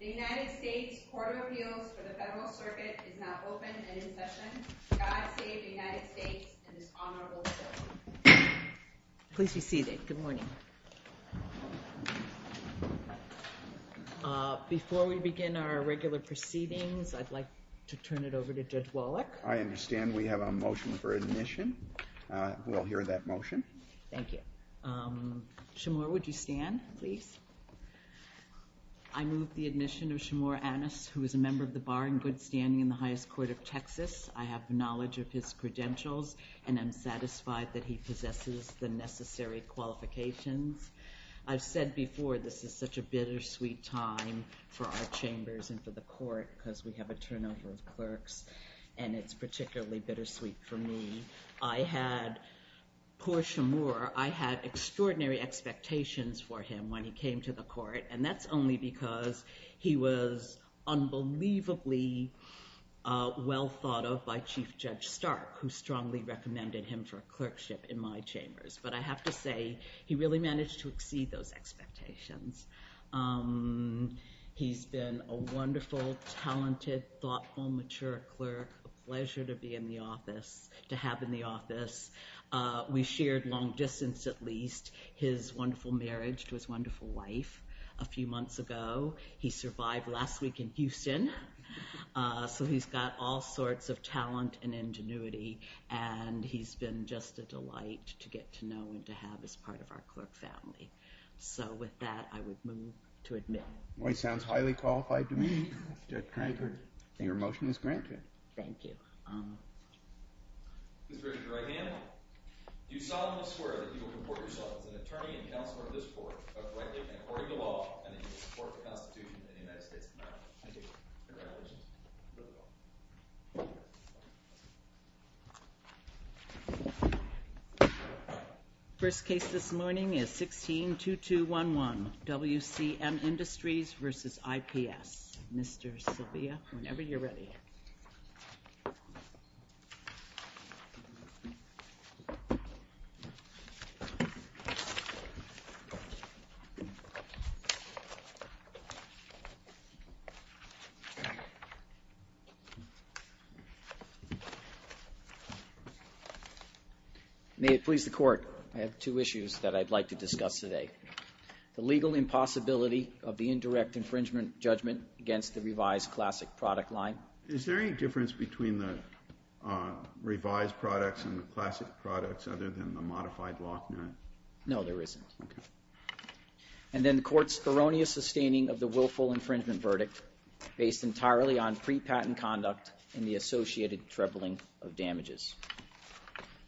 The United States Court of Appeals for the Federal Circuit is now open and in session. God save the United States and this honorable court. Please be seated. Good morning. Before we begin our regular proceedings, I'd like to turn it over to Judge Wallach. I understand we have a motion for admission. We'll hear that motion. Thank you. Shamor, would you stand, please? I move the admission of Shamor Annas, who is a member of the Bar and Good Standing in the Highest Court of Texas. I have knowledge of his credentials and am satisfied that he possesses the necessary qualifications. I've said before this is such a bittersweet time for our chambers and for the court because we have a turnover of clerks and it's particularly bittersweet for me. I had, poor Shamor, I had extraordinary expectations for him when he came to the court and that's only because he was unbelievably well thought of by Chief Judge Stark, who strongly recommended him for clerkship in my chambers, but I have to say he really managed to exceed those expectations. He's been a wonderful, talented, thoughtful, mature clerk, a pleasure to be in the office, to have in the office. We shared long distance, at least, his wonderful marriage to his wonderful wife a few months ago. He survived last week in Houston, so he's got all sorts of talent and ingenuity and he's been just a delight to get to know and to have as part of our clerk family. So with that, I would move to admit him. Boy, he sounds highly qualified to me, Judge Cranker. Your motion is granted. Thank you. Ms. Bridget, your right hand. Do you solemnly swear that you will comport yourself as an attorney and counselor to this court, abiding by the law, and that you will support the Constitution of the United States of America? I do. Congratulations. First case this morning is 16-2211, WCM Industries v. IPS. Mr. Silvia, whenever you're ready. Thank you. May it please the Court, I have two issues that I'd like to discuss today. The legal impossibility of the indirect infringement judgment against the revised classic product line. Is there any difference between the revised products and the classic products other than the modified lock nut? No, there isn't. Okay. And then the Court's erroneous sustaining of the willful infringement verdict, based entirely on pre-patent conduct and the associated trebling of damages.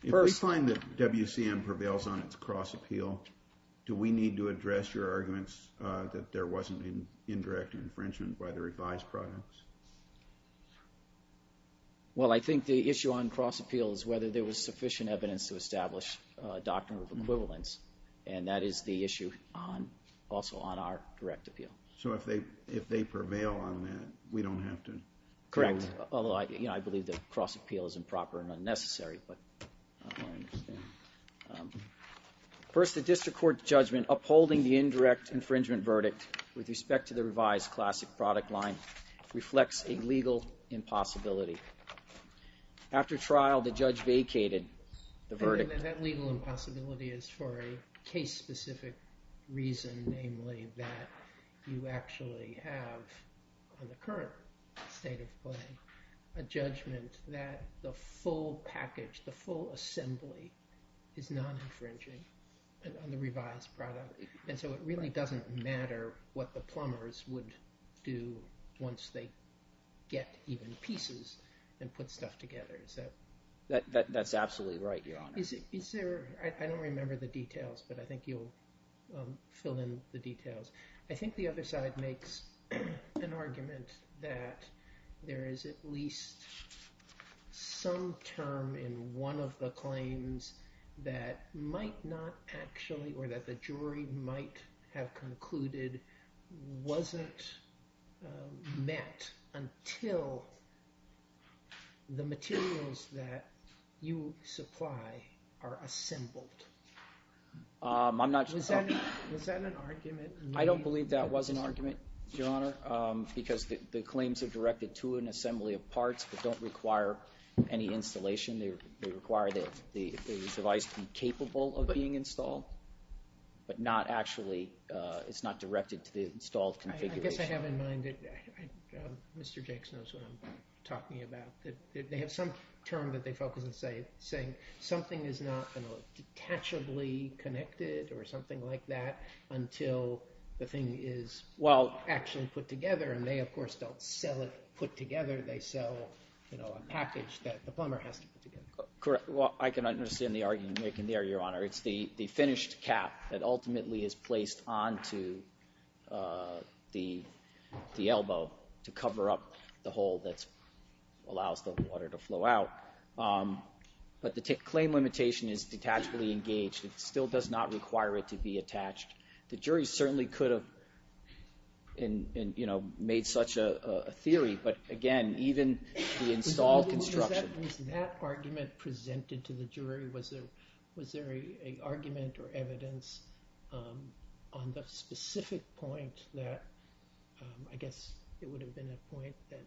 If we find that WCM prevails on its cross appeal, do we need to address your arguments that there wasn't an indirect infringement by the revised products? Well, I think the issue on cross appeal is whether there was sufficient evidence to establish a doctrine of equivalence, and that is the issue also on our direct appeal. So if they prevail on that, we don't have to? Correct. Although I believe that cross appeal is improper and unnecessary, but I don't understand. First, the District Court's judgment upholding the indirect infringement verdict with respect to the revised classic product line reflects a legal impossibility. After trial, the judge vacated the verdict. I think that that legal impossibility is for a case-specific reason, namely that you actually have, in the current state of play, a judgment that the full package, the full assembly is non-infringing on the revised product. And so it really doesn't matter what the plumbers would do once they get even pieces and put stuff together. That's absolutely right, Your Honor. I don't remember the details, but I think you'll fill in the details. I think the other side makes an argument that there is at least some term in one of the claims that might not actually or that the jury might have concluded wasn't met until the materials that you supply are assembled. I'm not sure. Was that an argument? I don't believe that was an argument, Your Honor, because the claims are directed to an assembly of parts but don't require any installation. They require that the device be capable of being installed, but not actually, it's not directed to the installed configuration. I guess I have in mind that Mr. Jakes knows what I'm talking about. They have some term that they focus on saying, something is not detachably connected or something like that until the thing is actually put together, and they, of course, don't sell it put together. They sell a package that the plumber has to put together. I can understand the argument you're making there, Your Honor. It's the finished cap that ultimately is placed onto the elbow to cover up the hole that allows the water to flow out. But the claim limitation is detachably engaged. It still does not require it to be attached. The jury certainly could have made such a theory, but again, even the installed construction. Was that argument presented to the jury? Was there an argument or evidence on the specific point that, I guess it would have been a point that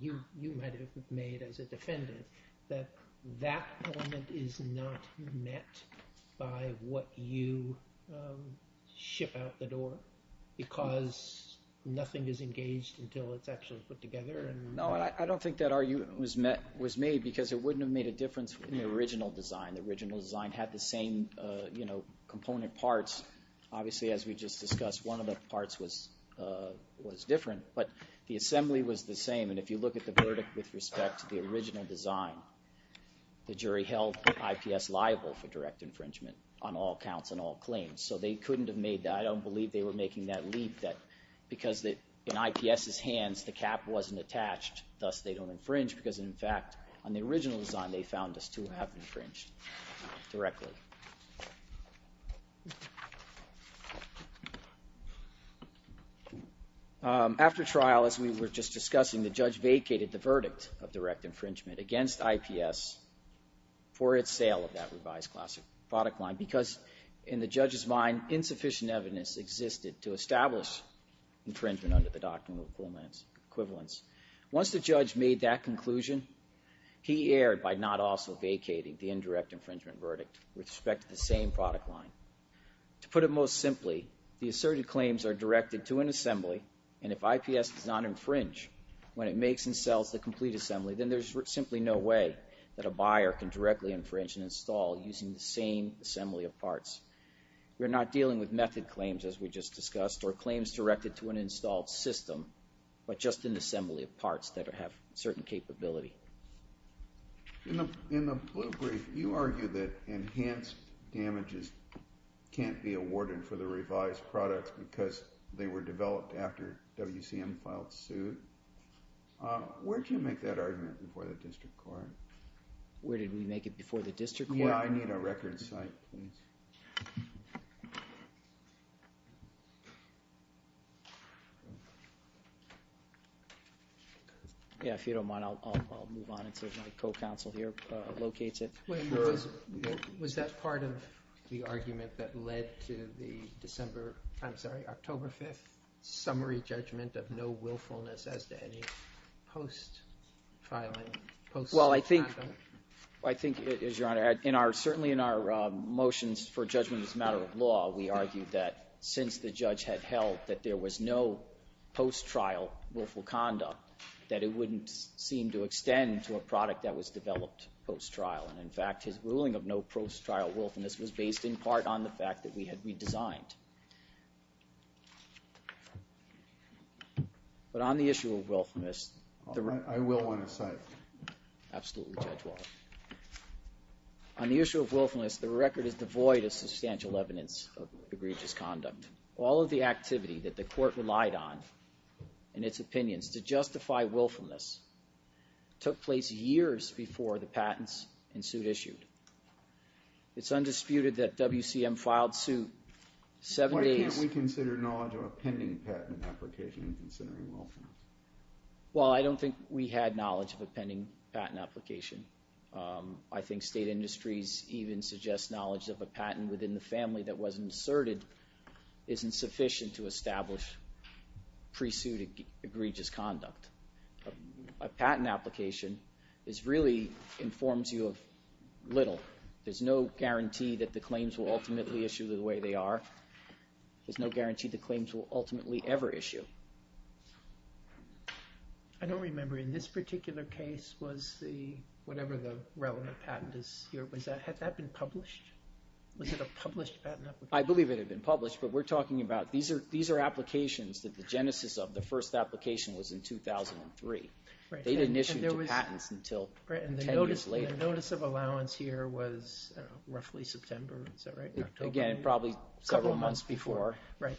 you might have made as a defendant, that that element is not met by what you ship out the door because nothing is engaged until it's actually put together? No, I don't think that argument was made because it wouldn't have made a difference in the original design. The original design had the same component parts. Obviously, as we just discussed, one of the parts was different, but the assembly was the same. And if you look at the verdict with respect to the original design, the jury held IPS liable for direct infringement on all counts and all claims. So they couldn't have made that. I don't believe they were making that leap that because in IPS's hands the cap wasn't attached, thus they don't infringe because, in fact, on the original design they found us to have infringed directly. After trial, as we were just discussing, the judge vacated the verdict of direct infringement against IPS for its sale of that revised classic product line because, in the judge's mind, insufficient evidence existed to establish infringement under the Doctrine of Equivalence. Once the judge made that conclusion, he erred by not also vacating the indirect infringement verdict with respect to the same product line. To put it most simply, the asserted claims are directed to an assembly, and if IPS does not infringe when it makes and sells the complete assembly, then there's simply no way that a buyer can directly infringe and install using the same assembly of parts. We're not dealing with method claims, as we just discussed, or claims directed to an installed system, but just an assembly of parts that have certain capability. In the blue brief, you argue that enhanced damages can't be awarded for the revised products because they were developed after WCM filed suit. Where do you make that argument before the district court? Where did we make it before the district court? Yeah, I need a record site, please. Yeah, if you don't mind, I'll move on until my co-counsel here locates it. Was that part of the argument that led to the October 5th summary judgment of no willfulness as to any post-filing? Well, I think, Your Honor, certainly in our motions for judgment as a matter of law, we argued that since the judge had held that there was no post-trial willful conduct, that it wouldn't seem to extend to a product that was developed post-trial. And in fact, his ruling of no post-trial willfulness was based in part on the fact that we had redesigned. But on the issue of willfulness... I will want to cite it. Absolutely, Judge Waller. On the issue of willfulness, the record is devoid of substantial evidence of egregious conduct. All of the activity that the court relied on in its opinions to justify willfulness took place years before the patents and suit issued. It's undisputed that WCM filed suit seven days... Why can't we consider knowledge of a pending patent application in considering willfulness? Well, I don't think we had knowledge of a pending patent application. I think state industries even suggest knowledge of a patent within the family that wasn't asserted isn't sufficient to establish pre-suit egregious conduct. A patent application really informs you of little. There's no guarantee that the claims will ultimately issue the way they are. There's no guarantee the claims will ultimately ever issue. I don't remember. In this particular case, was the... Whatever the relevant patent is... Had that been published? Was it a published patent application? I believe it had been published, but we're talking about... The first application was in 2003. They didn't issue the patents until 10 years later. The notice of allowance here was roughly September, is that right? Again, probably several months before. Right.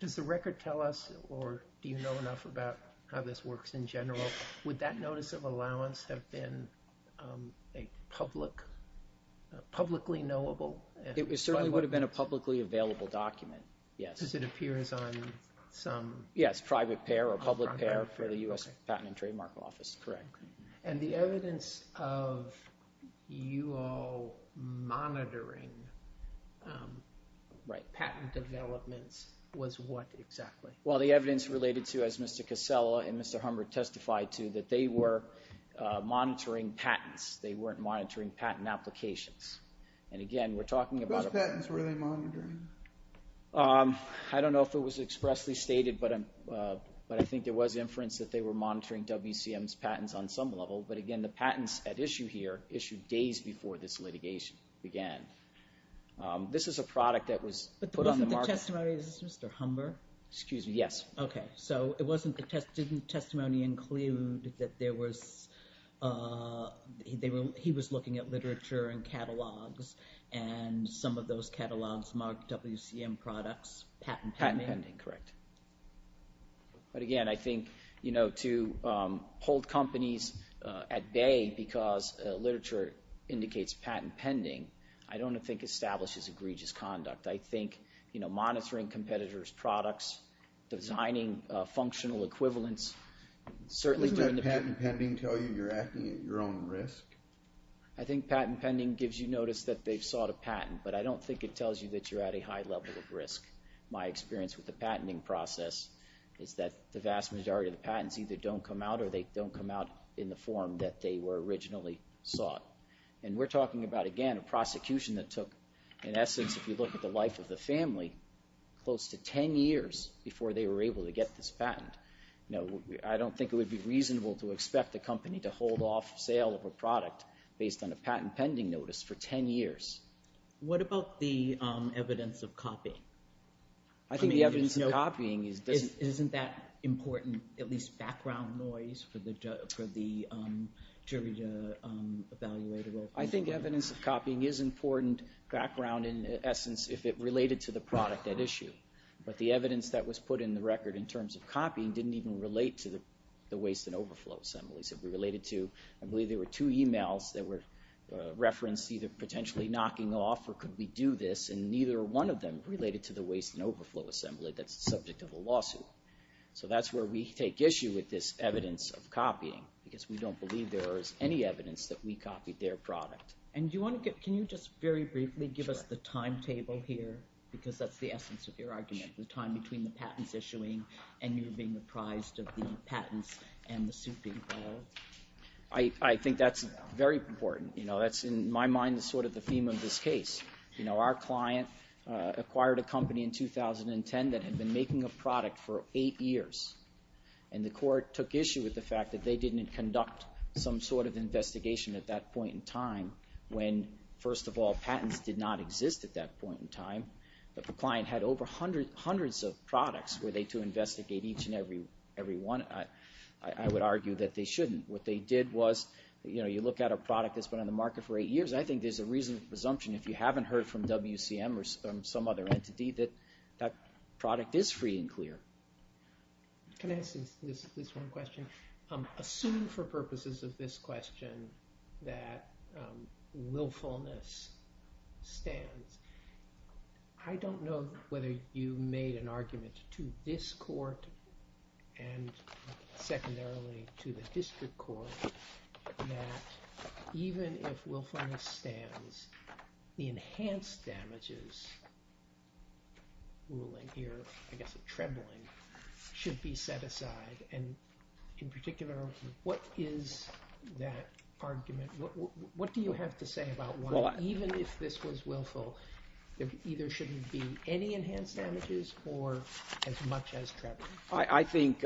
Does the record tell us or do you know enough about how this works in general? Would that notice of allowance have been publicly knowable? It certainly would have been a publicly available document, yes. Just as it appears on some... Yes, private pair or public pair for the U.S. Patent and Trademark Office. Correct. And the evidence of you all monitoring patent developments was what exactly? Well, the evidence related to, as Mr. Casella and Mr. Humbert testified to, that they were monitoring patents. They weren't monitoring patent applications. And again, we're talking about... What evidence were they monitoring? I don't know if it was expressly stated, but I think there was inference that they were monitoring WCM's patents on some level. But again, the patents at issue here issued days before this litigation began. This is a product that was put on the market... But the testimony, is this Mr. Humbert? Excuse me, yes. Okay, so didn't the testimony include that there was... and some of those catalogs marked WCM products, patent pending? Patent pending, correct. But again, I think to hold companies at bay because literature indicates patent pending, I don't think establishes egregious conduct. I think monitoring competitors' products, designing functional equivalents... Doesn't patent pending tell you you're acting at your own risk? I think patent pending gives you notice that they've sought a patent, but I don't think it tells you that you're at a high level of risk. My experience with the patenting process is that the vast majority of the patents either don't come out or they don't come out in the form that they were originally sought. And we're talking about, again, a prosecution that took, in essence, if you look at the life of the family, close to 10 years before they were able to get this patent. I don't think it would be reasonable to expect a company to hold off sale of a product based on a patent pending notice for 10 years. What about the evidence of copying? I think the evidence of copying is... Isn't that important, at least background noise, for the jury to evaluate? I think evidence of copying is important background, in essence, if it related to the product at issue. But the evidence that was put in the record in terms of copying didn't even relate to the waste and overflow assemblies. I believe there were two emails that were referenced either potentially knocking off or could we do this, and neither one of them related to the waste and overflow assembly that's the subject of a lawsuit. So that's where we take issue with this evidence of copying because we don't believe there is any evidence that we copied their product. Can you just very briefly give us the timetable here? Because that's the essence of your argument, the time between the patents issuing and you being apprised of the patents and the suit being filed. I think that's very important. That's, in my mind, sort of the theme of this case. Our client acquired a company in 2010 that had been making a product for eight years, and the court took issue with the fact that they didn't conduct some sort of investigation at that point in time that the client had over hundreds of products were they to investigate each and every one. I would argue that they shouldn't. What they did was, you know, you look at a product that's been on the market for eight years, I think there's a reasonable presumption if you haven't heard from WCM or some other entity that that product is free and clear. Can I ask this one question? Assume for purposes of this question that willfulness stands. I don't know whether you made an argument to this court and secondarily to the district court that even if willfulness stands, the enhanced damages ruling here, I guess a trembling, should be set aside. In particular, what is that argument? What do you have to say about why, even if this was willful, there either shouldn't be any enhanced damages or as much as trembling? I think,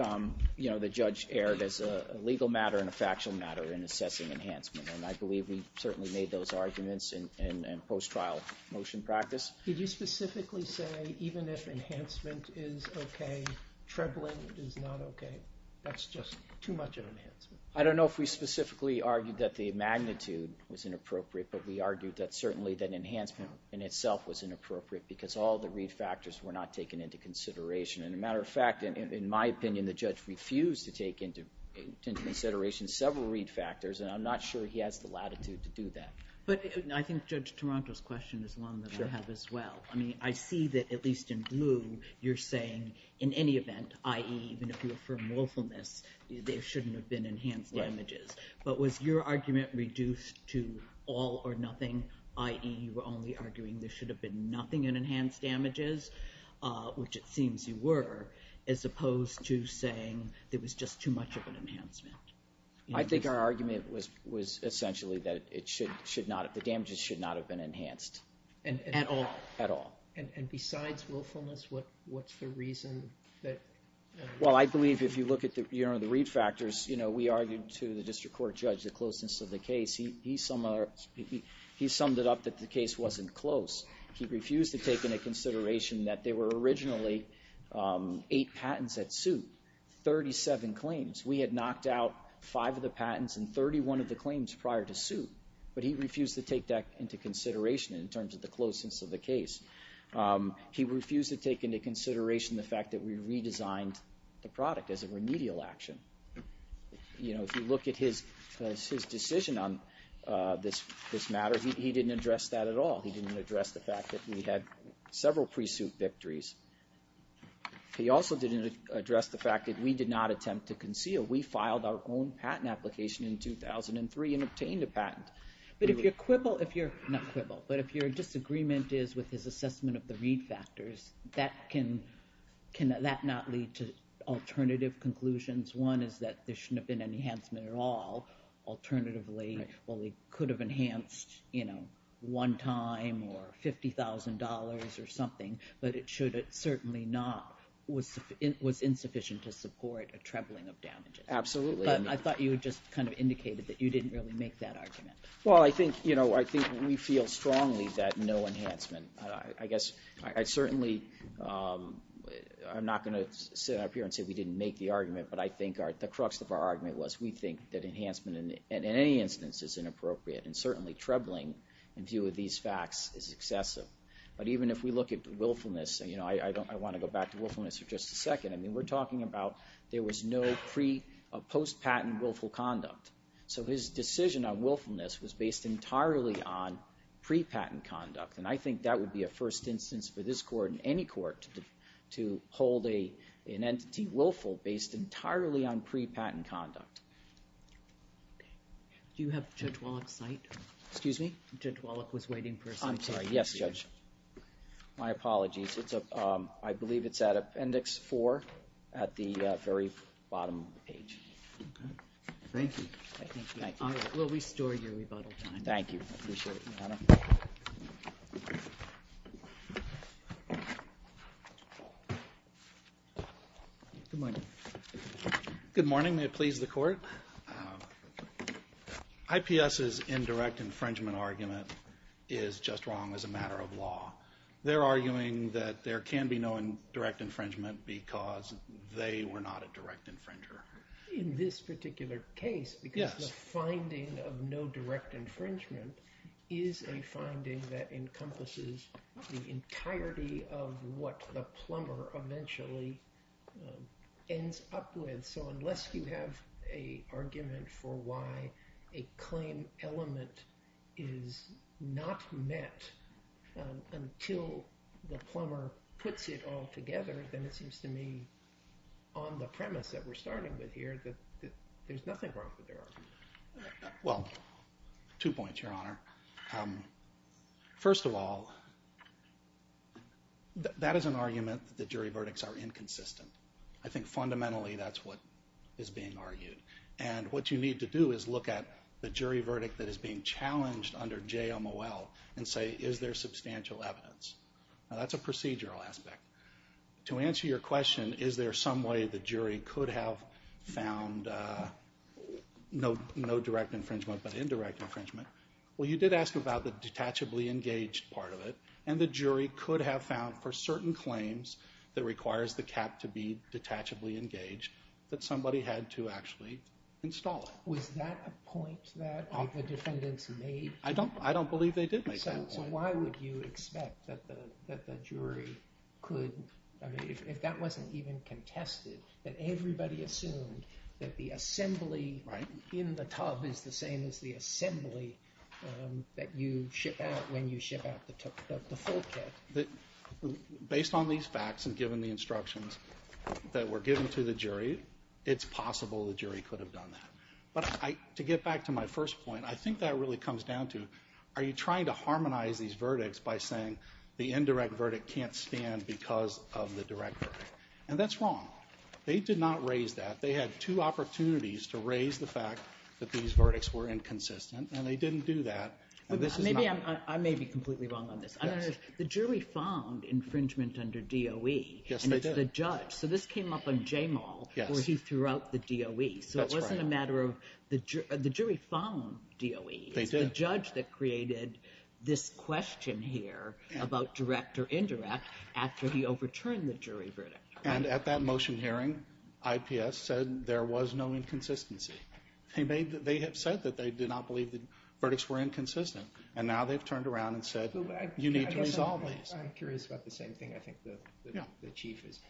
you know, the judge erred as a legal matter and a factual matter in assessing enhancement, and I believe we certainly made those arguments in post-trial motion practice. Did you specifically say even if enhancement is okay, trembling is not okay? That's just too much of an enhancement. I don't know if we specifically argued that the magnitude was inappropriate, but we argued that certainly that enhancement in itself was inappropriate because all the read factors were not taken into consideration. And a matter of fact, in my opinion, the judge refused to take into consideration several read factors, and I'm not sure he has the latitude to do that. But I think Judge Toronto's question is one that I have as well. I mean, I see that at least in blue, you're saying in any event, i.e., even if you affirm willfulness, there shouldn't have been enhanced damages. But was your argument reduced to all or nothing, i.e., you were only arguing there should have been nothing in enhanced damages, which it seems you were, as opposed to saying there was just too much of an enhancement? I think our argument was essentially that the damages should not have been enhanced. At all? At all. And besides willfulness, what's the reason that... Well, I believe if you look at the read factors, you know, we argued to the district court judge the closeness of the case. He summed it up that the case wasn't close. He refused to take into consideration that there were originally eight patents at suit, 37 claims. We had knocked out five of the patents and 31 of the claims prior to suit, but he refused to take that into consideration in terms of the closeness of the case. He refused to take into consideration the fact that we redesigned the product as a remedial action. You know, if you look at his decision on this matter, he didn't address that at all. He didn't address the fact that we had several pre-suit victories. He also didn't address the fact that we did not attempt to conceal. We filed our own patent application in 2003 and obtained a patent. But if your quibble... not quibble, but if your disagreement is with his assessment of the read factors, that can... can that not lead to alternative conclusions? One is that there shouldn't have been any enhancement at all. Alternatively, well, we could have enhanced, you know, one time or $50,000 or something, but it should have certainly not... was insufficient to support a trembling of damages. Absolutely. But I thought you had just kind of indicated that you didn't really make that argument. Well, I think, you know, I think we feel strongly that no enhancement. I guess I certainly... I'm not going to sit up here and say we didn't make the argument, but I think the crux of our argument was we think that enhancement in any instance is inappropriate and certainly trebling in view of these facts is excessive. But even if we look at willfulness, you know, I want to go back to willfulness for just a second. I mean, we're talking about there was no pre... post-patent willful conduct. So his decision on willfulness was based entirely on pre-patent conduct, and I think that would be a first instance for this court and any court to hold an entity willful based entirely on pre-patent conduct. Do you have Judge Wallach's site? Excuse me? Judge Wallach was waiting for his... I'm sorry, yes, Judge. My apologies. It's a... I believe it's at Appendix 4 at the very bottom of the page. Okay. Thank you. Thank you. We'll restore your rebuttal time. Thank you. I appreciate it, Your Honor. Good morning. Good morning. May it please the court? IPS's indirect infringement argument is just wrong as a matter of law. They're arguing that there can be no direct infringement because they were not a direct infringer. In this particular case... Yes. ...the finding of no direct infringement is a finding that encompasses the entirety of what the plumber eventually ends up with. So unless you have an argument for why a claim element is not met until the plumber puts it all together, then it seems to me on the premise that we're starting with here that there's nothing wrong with their argument. Well, two points, Your Honor. First of all, that is an argument that the jury verdicts are inconsistent. I think fundamentally that's what is being argued. And what you need to do is look at the jury verdict that is being challenged under JOMOL and say, is there substantial evidence? Now, that's a procedural aspect. To answer your question, is there some way the jury could have found no direct infringement but indirect infringement, well, you did ask about the detachably engaged part of it, and the jury could have found for certain claims that requires the cap to be detachably engaged that somebody had to actually install it. Was that a point that the defendants made? I don't believe they did make that point. So why would you expect that the jury could... If that wasn't even contested, that everybody assumed that the assembly in the tub is the same as the assembly that you ship out when you ship out the full kit. Based on these facts and given the instructions that were given to the jury, it's possible the jury could have done that. But to get back to my first point, I think that really comes down to are you trying to harmonize these verdicts by saying the indirect verdict can't stand because of the direct verdict? And that's wrong. They did not raise that. They had two opportunities to raise the fact that these verdicts were inconsistent, and they didn't do that. I may be completely wrong on this. The jury found infringement under DOE, and it's the judge. So this came up on J-Mall, where he threw out the DOE. So it wasn't a matter of the jury found DOE. It's the judge that created this question here about direct or indirect after he overturned the jury verdict. And at that motion hearing, IPS said there was no inconsistency. They have said that they did not believe the verdicts were inconsistent, and now they've turned around and said, you need to resolve these. I'm curious about the same thing. I think the chief is.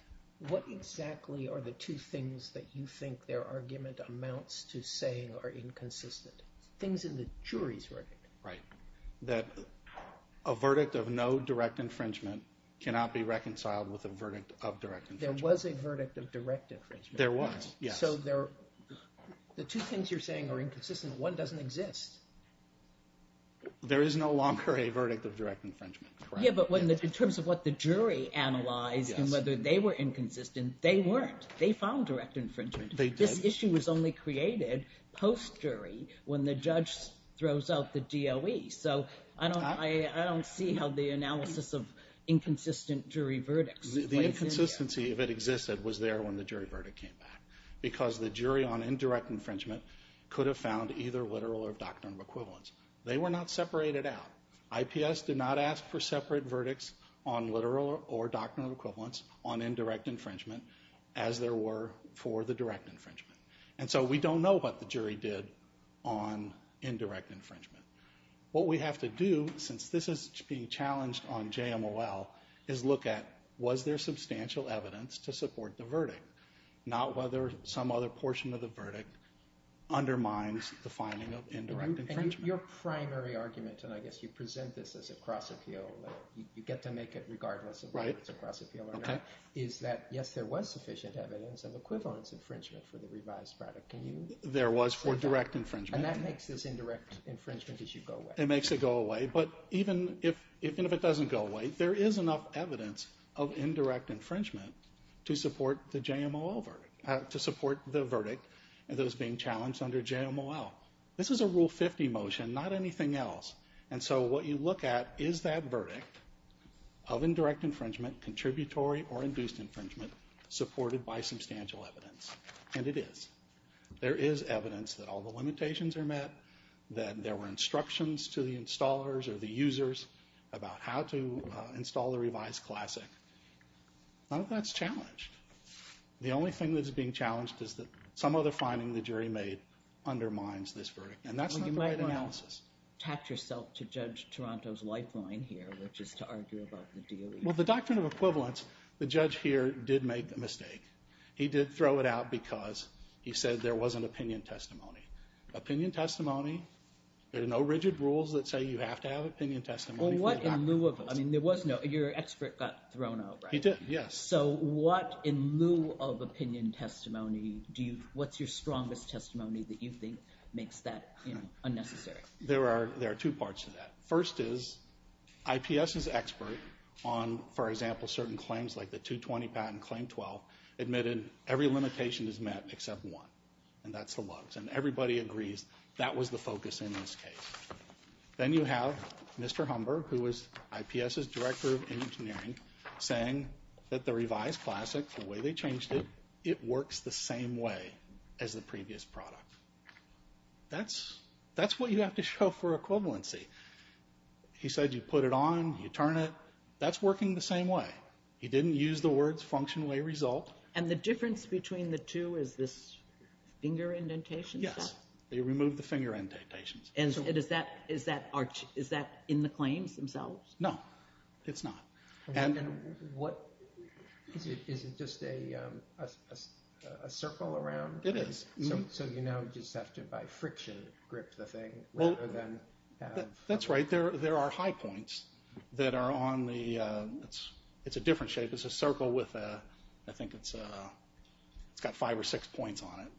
What exactly are the two things that you think their argument amounts to saying are inconsistent? Things in the jury's verdict. That a verdict of no direct infringement cannot be reconciled with a verdict of direct infringement. There was a verdict of direct infringement. There was, yes. So the two things you're saying are inconsistent. One doesn't exist. There is no longer a verdict of direct infringement. Yeah, but in terms of what the jury analyzed and whether they were inconsistent, they weren't. They found direct infringement. This issue was only created post-jury when the judge throws out the DOE. So I don't see how the analysis of inconsistent jury verdicts plays into that. The inconsistency, if it existed, was there when the jury verdict came back because the jury on indirect infringement could have found either literal or doctrinal equivalence. They were not separated out. IPS did not ask for separate verdicts on literal or doctrinal equivalence on indirect infringement as there were for the direct infringement. And so we don't know what the jury did on indirect infringement. What we have to do, since this is being challenged on JMOL, is look at was there substantial evidence to support the verdict, not whether some other portion of the verdict undermines the finding of indirect infringement. And your primary argument, and I guess you present this as a cross-appeal, you get to make it regardless of whether it's a cross-appeal or not, is that, yes, there was sufficient evidence of equivalence infringement for the revised verdict. There was for direct infringement. And that makes this indirect infringement as you go away. It makes it go away. But even if it doesn't go away, there is enough evidence of indirect infringement to support the JMOL verdict, to support the verdict that is being challenged under JMOL. This is a Rule 50 motion, not anything else. And so what you look at is that verdict of indirect infringement, contributory or induced infringement, supported by substantial evidence. And it is. There is evidence that all the limitations are met, that there were instructions to the installers or the users about how to install the revised classic. None of that's challenged. The only thing that's being challenged is that some other finding the jury made undermines this verdict. And that's not the right analysis. Well, you might want to tact yourself to Judge Toronto's lifeline here, which is to argue about the DOE. Well, the doctrine of equivalence, the judge here did make a mistake. He did throw it out because he said there wasn't opinion testimony. Opinion testimony, there are no rigid rules that say you have to have opinion testimony for the doctrine of equivalence. Your expert got thrown out, right? He did, yes. So what, in lieu of opinion testimony, what's your strongest testimony that you think makes that unnecessary? There are two parts to that. First is, IPS's expert on, for example, certain claims like the 220 patent, Claim 12, admitted every limitation is met except one. And that's the LUGS. And everybody agrees that was the focus in this case. Then you have Mr. Humber, who is IPS's director of engineering, saying that the revised classic, the way they changed it, it works the same way as the previous product. That's what you have to show for equivalency. He said you put it on, you turn it, that's working the same way. He didn't use the words function, way, result. And the difference between the two is this finger indentation stuff? Yes, they removed the finger indentations. And is that in the claims themselves? No, it's not. And what, is it just a circle around? It is. So you now just have to, by friction, grip the thing rather than... That's right, there are high points that are on the, it's a different shape, it's a circle with a, I think it's got five or six points on it.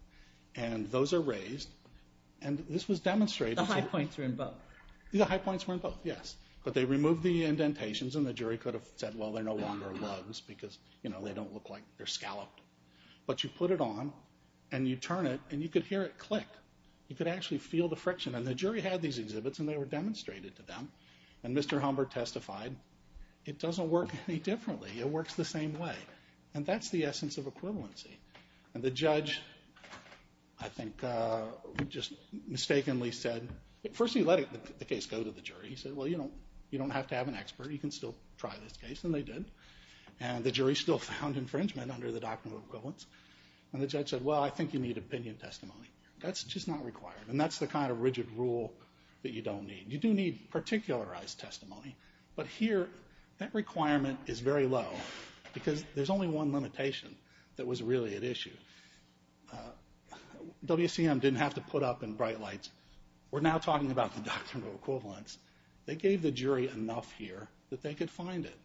And those are raised. And this was demonstrated... The high points are in both. The high points were in both, yes. But they removed the indentations, and the jury could have said, well, they're no longer LUGS, because they don't look like they're scalloped. But you put it on, and you turn it, and you could hear it click. You could actually feel the friction. And the jury had these exhibits, and they were demonstrated to them. And Mr. Humbert testified, it doesn't work any differently. It works the same way. And that's the essence of equivalency. And the judge, I think, just mistakenly said, first he let the case go to the jury. He said, well, you don't have to have an expert. You can still try this case. And they did. And the jury still found infringement under the doctrine of equivalence. And the judge said, well, I think you need opinion testimony. That's just not required. And that's the kind of rigid rule that you don't need. You do need particularized testimony. But here, that requirement is very low, because there's only one limitation that was really at issue. WCM didn't have to put up in bright lights, we're now talking about the doctrine of equivalence. They gave the jury enough here that they could find it.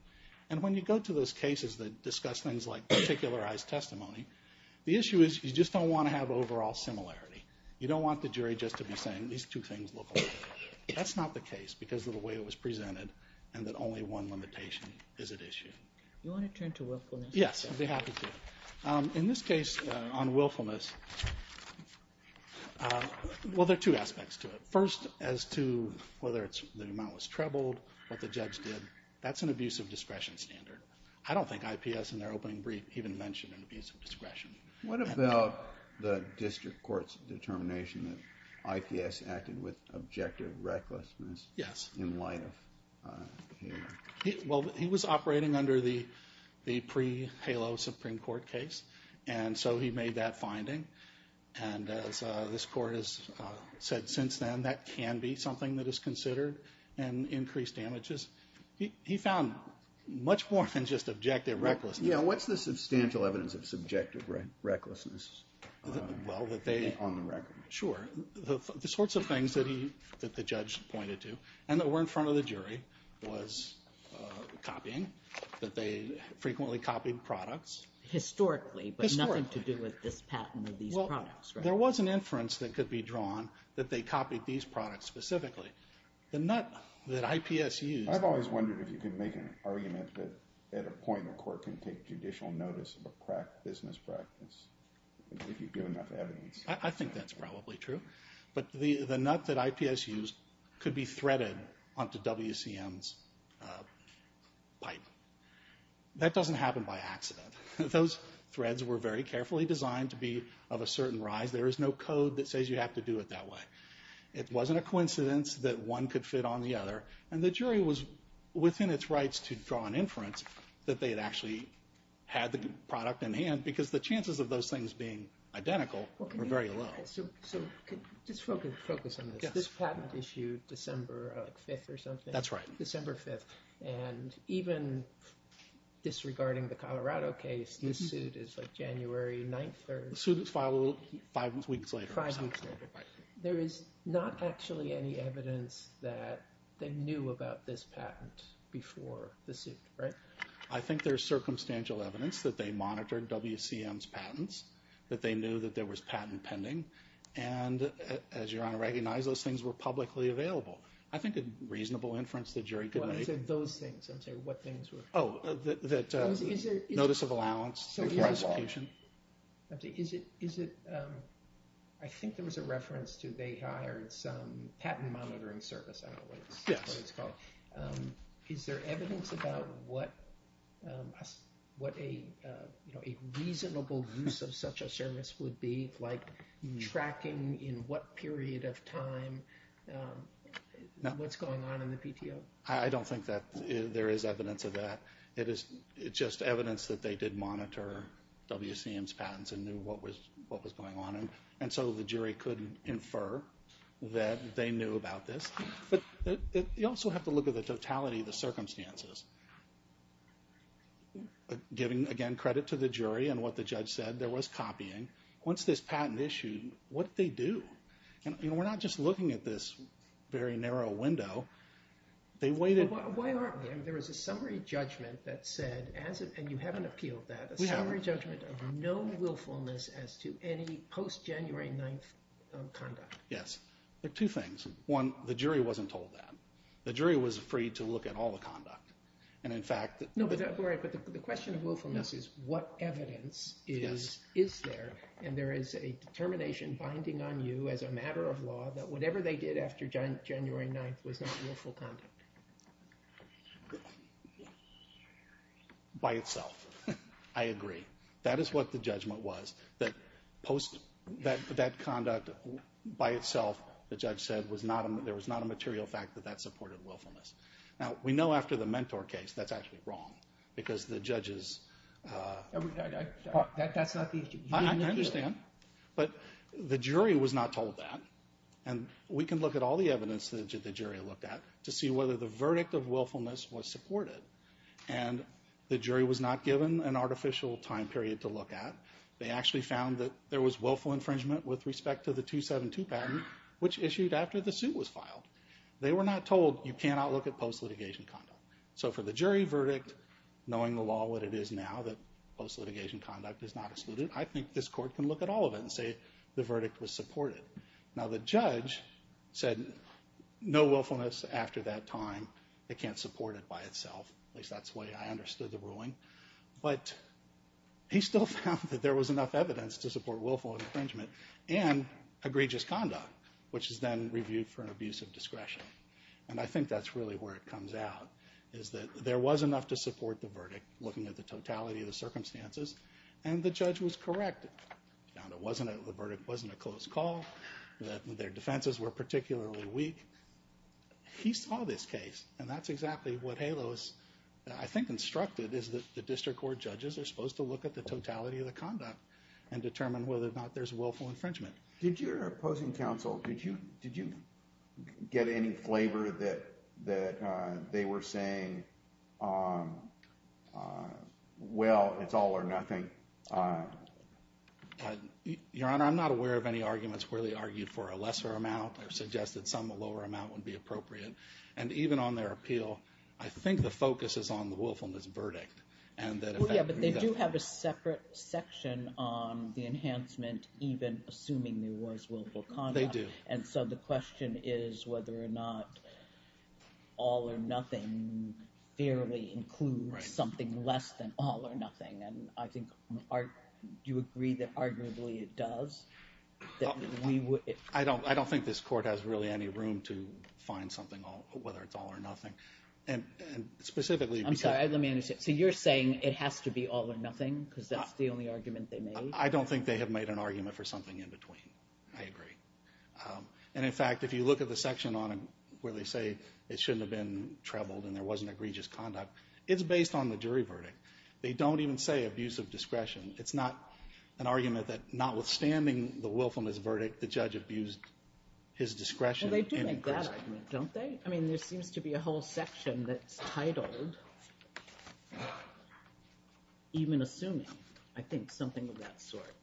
And when you go to those cases that discuss things like particularized testimony, the issue is you just don't want to have overall similarity. You don't want the jury just to be saying, these two things look alike. That's not the case, because of the way it was presented and that only one limitation is at issue. You want to turn to willfulness? Yes, I'd be happy to. In this case, on willfulness, well, there are two aspects to it. First, as to whether the amount was trebled, what the judge did, that's an abusive discretion standard. I don't think IPS, in their opening brief, even mentioned an abusive discretion. What about the district court's determination that IPS acted with objective recklessness? Yes. In light of HALO? Well, he was operating under the pre-HALO Supreme Court case, and so he made that finding. And as this court has said since then, that can be something that is considered an increased damages. He found much more than just objective recklessness. What's the substantial evidence of subjective recklessness on the record? Sure. The sorts of things that the judge pointed to, and that were in front of the jury, was copying, that they frequently copied products. Historically, but nothing to do with this patent of these products. There was an inference that could be drawn that they copied these products specifically. The nut that IPS used... I've always wondered if you can make an argument that at a point a court can take judicial notice of a business practice, if you give enough evidence. I think that's probably true. But the nut that IPS used could be threaded onto WCM's pipe. That doesn't happen by accident. Those threads were very carefully designed to be of a certain rise. There is no code that says you have to do it that way. It wasn't a coincidence that one could fit on the other, and the jury was within its rights to draw an inference that they had actually had the product in hand, because the chances of those things being identical were very low. Just focus on this. This patent issued December 5th or something? That's right. December 5th. And even disregarding the Colorado case, this suit is January 9th or... The suit was filed five weeks later. Five weeks later. There is not actually any evidence that they knew about this patent before the suit, right? I think there's circumstantial evidence that they monitored WCM's patents, that they knew that there was patent pending, and, as Your Honor recognized, those things were publicly available. I think a reasonable inference the jury could make. Well, I said those things. I'm saying what things were. Oh, that notice of allowance before execution. Is it... I think there was a reference to they hired some patent monitoring service. I don't know what it's called. Is there evidence about what a reasonable use of such a service would be, like tracking in what period of time, what's going on in the PTO? I don't think that there is evidence of that. It's just evidence that they did monitor WCM's patents and knew what was going on, and so the jury could infer that they knew about this. But you also have to look at the totality of the circumstances. Giving, again, credit to the jury and what the judge said. There was copying. Once this patent issued, what did they do? And we're not just looking at this very narrow window. They waited... Why aren't we? There was a summary judgment that said, and you haven't appealed that, a summary judgment of no willfulness as to any post-January 9th conduct. Yes. Two things. One, the jury wasn't told that. The jury was free to look at all the conduct, and in fact... No, but the question of willfulness is what evidence is there, and there is a determination binding on you as a matter of law that whatever they did after January 9th was not willful conduct. By itself. I agree. That is what the judgment was, that post that conduct by itself, the judge said there was not a material fact that that supported willfulness. Now, we know after the Mentor case, that's actually wrong, because the judges... That's not the issue. I understand. But the jury was not told that, and we can look at all the evidence that the jury looked at to see whether the verdict of willfulness was supported. And the jury was not given an artificial time period to look at. They actually found that there was willful infringement with respect to the 272 patent, which issued after the suit was filed. They were not told, you cannot look at post-litigation conduct. So for the jury verdict, knowing the law, what it is now, that post-litigation conduct is not excluded, I think this court can look at all of it and say the verdict was supported. Now, the judge said no willfulness after that time. It can't support it by itself. At least that's the way I understood the ruling. But he still found that there was enough evidence to support willful infringement and egregious conduct, which is then reviewed for an abuse of discretion. And I think that's really where it comes out, is that there was enough to support the verdict, looking at the totality of the circumstances, and the judge was correct. The verdict wasn't a closed call. Their defenses were particularly weak. He saw this case. And that's exactly what HALO has, I think, instructed, is that the district court judges are supposed to look at the totality of the conduct and determine whether or not there's willful infringement. Did your opposing counsel, did you get any flavor that they were saying, well, it's all or nothing? Your Honor, I'm not aware of any arguments where they argued for a lesser amount or suggested some lower amount would be appropriate. And even on their appeal, I think the focus is on the willfulness verdict. Yeah, but they do have a separate section on the enhancement, even assuming there was willful conduct. They do. And so the question is whether or not all or nothing fairly includes something less than all or nothing. And I think you agree that arguably it does? I don't think this court has really any room to find something, whether it's all or nothing. And specifically, because- I'm sorry, let me understand. So you're saying it has to be all or nothing, because that's the only argument they made? I don't think they have made an argument for something in between. I agree. And in fact, if you look at the section where they say it shouldn't have been trebled and there wasn't egregious conduct, it's based on the jury verdict. They don't even say abuse of discretion. It's not an argument that notwithstanding the willfulness verdict, the judge abused his discretion. Well, they do make that argument, don't they? I mean, there seems to be a whole section that's titled even assuming, I think, something of that sort.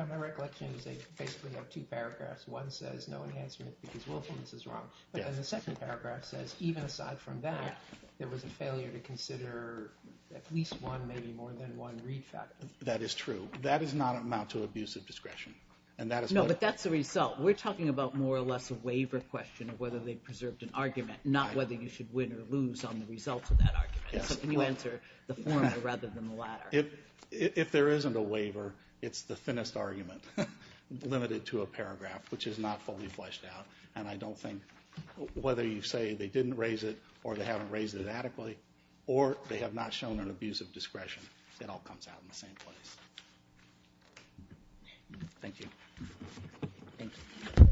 My recollection is they basically have two paragraphs. One says no enhancement because willfulness is wrong. But then the second paragraph says even aside from that, there was a failure to consider at least one, maybe more than one read factor. That is true. That does not amount to abuse of discretion. And that is what- No, but that's the result. We're talking about more or less a waiver question of whether they preserved an argument, not whether you should win or lose on the results of that argument. So can you answer the former rather than the latter? If there isn't a waiver, it's the thinnest argument limited to a paragraph, which is not fully fleshed out. And I don't think whether you say they didn't raise it or they haven't raised it adequately or they have not shown an abuse of discretion, it all comes out in the same place. Thank you. Thank you.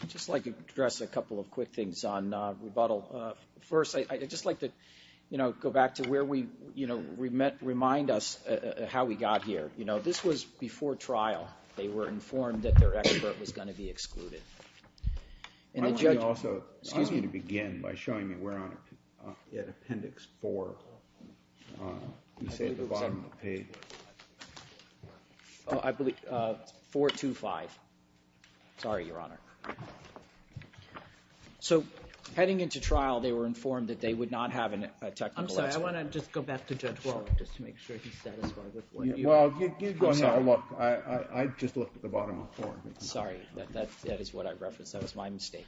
I'd just like to address a couple of quick things on rebuttal. First, I'd just like to go back to where we remind us how we got here. This was before trial. They were informed that their expert was going to be excluded. And the judge- I'm going to also- Excuse me. Again, by showing me where on appendix 4, you say at the bottom of the page. I believe 425. Sorry, Your Honor. So heading into trial, they were informed that they would not have a technical expert. I'm sorry. I want to just go back to Judge Wolff just to make sure he's satisfied with what you- Well, you go ahead and look. I just looked at the bottom of 4. Sorry. That is what I referenced. That was my mistake.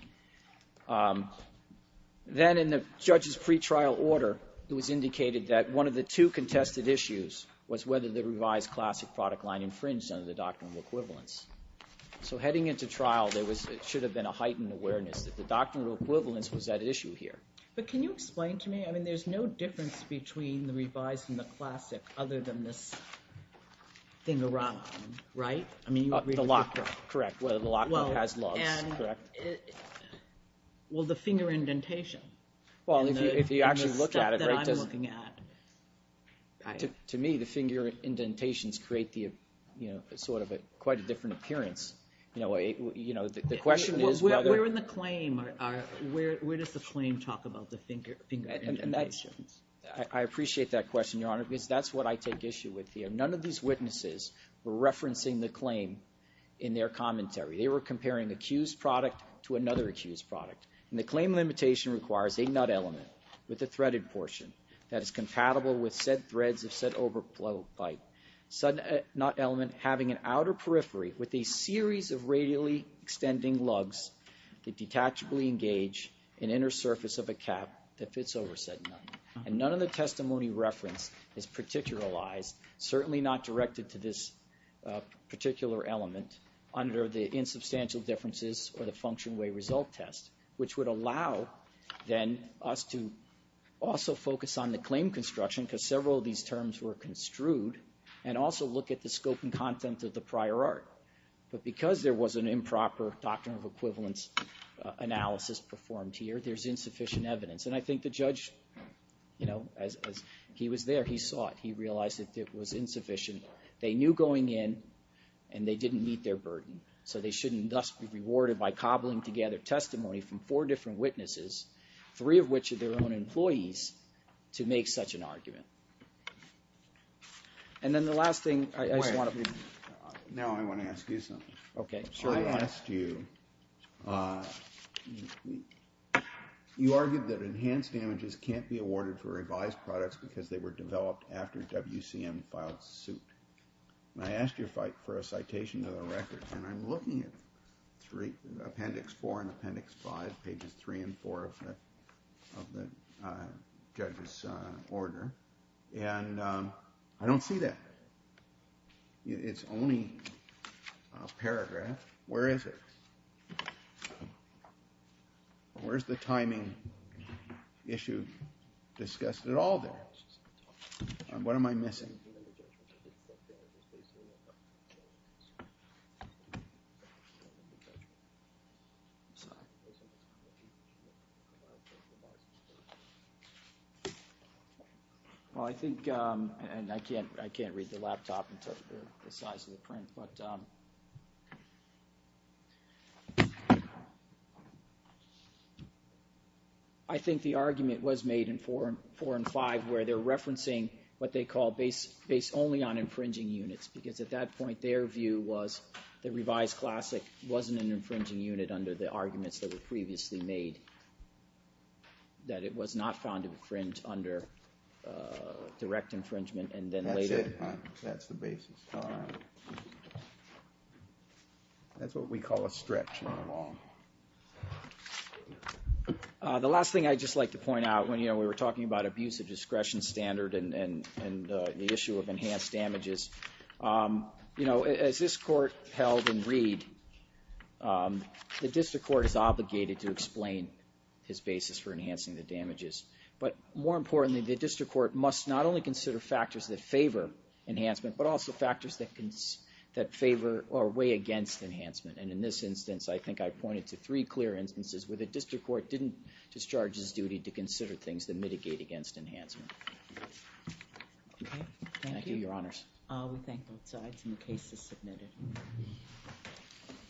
Then in the judge's pre-trial order, it was indicated that one of the two contested issues was whether the revised classic product line infringed under the Doctrine of Equivalence. So heading into trial, there should have been a heightened awareness that the Doctrine of Equivalence was at issue here. But can you explain to me? I mean, there's no difference between the revised and the classic other than this thing around, right? I mean, you agreed with- The lock nut. Correct. Whether the lock nut has lugs. Correct. Well, the finger indentation. Well, if you actually look at it- The stuff that I'm looking at- To me, the finger indentations create the, you know, sort of quite a different appearance. You know, the question is whether- Where in the claim are- Where does the claim talk about the finger indentations? I appreciate that question, Your Honor, because that's what I take issue with here. None of these witnesses were referencing the claim in their commentary. They were comparing accused product to another accused product. And the claim limitation requires a nut element with a threaded portion that is compatible with said threads of said overflow pipe. Sudden nut element having an outer periphery with a series of radially extending lugs that detachably engage an inner surface of a cap that fits over said nut. And none of the testimony referenced is particularized, certainly not directed to this particular element under the insubstantial differences or the function way result test, which would allow then us to also focus on the claim construction, because several of these terms were construed, and also look at the scope and content of the prior art. But because there was an improper doctrine of equivalence analysis performed here, there's insufficient evidence. And I think the judge, you know, as he was there, he saw it. He realized that it was insufficient. They knew going in, and they didn't meet their burden. So they shouldn't thus be rewarded by cobbling together testimony from four different witnesses, three of which are their own employees, to make such an argument. And then the last thing, I just want to... Now I want to ask you something. Okay, sure. I asked you, you argued that enhanced damages can't be awarded for revised products because they were developed after WCM filed suit. And I asked you for a citation of the record, and I'm looking at appendix four and appendix five, pages three and four of the judge's order, and I don't see that. It's only a paragraph. Where is it? Where's the timing issue discussed at all there? What am I missing? Well, I think, and I can't read the laptop because of the size of the print, but... I think the argument was made in four and five where they're referencing what they call base only on infringing units, because at that point their view was the revised classic wasn't an infringing unit under the arguments that were previously made, that it was not found to infringe under direct infringement, and then later... That's it, huh? That's the basis. All right. That's what we call a stretch in the law. The last thing I'd just like to point out, when we were talking about abusive discretion standard and the issue of enhanced damages, as this court held in Reed, the district court is obligated to explain his basis for enhancing the damages. But more importantly, the district court must not only consider factors that favor enhancement, but also factors that favor or weigh against enhancement. And in this instance, I think I've pointed to three clear instances where the district court didn't discharge his duty to consider things that mitigate against enhancement. Okay, thank you. Thank you, Your Honors. We thank both sides, and the case is submitted.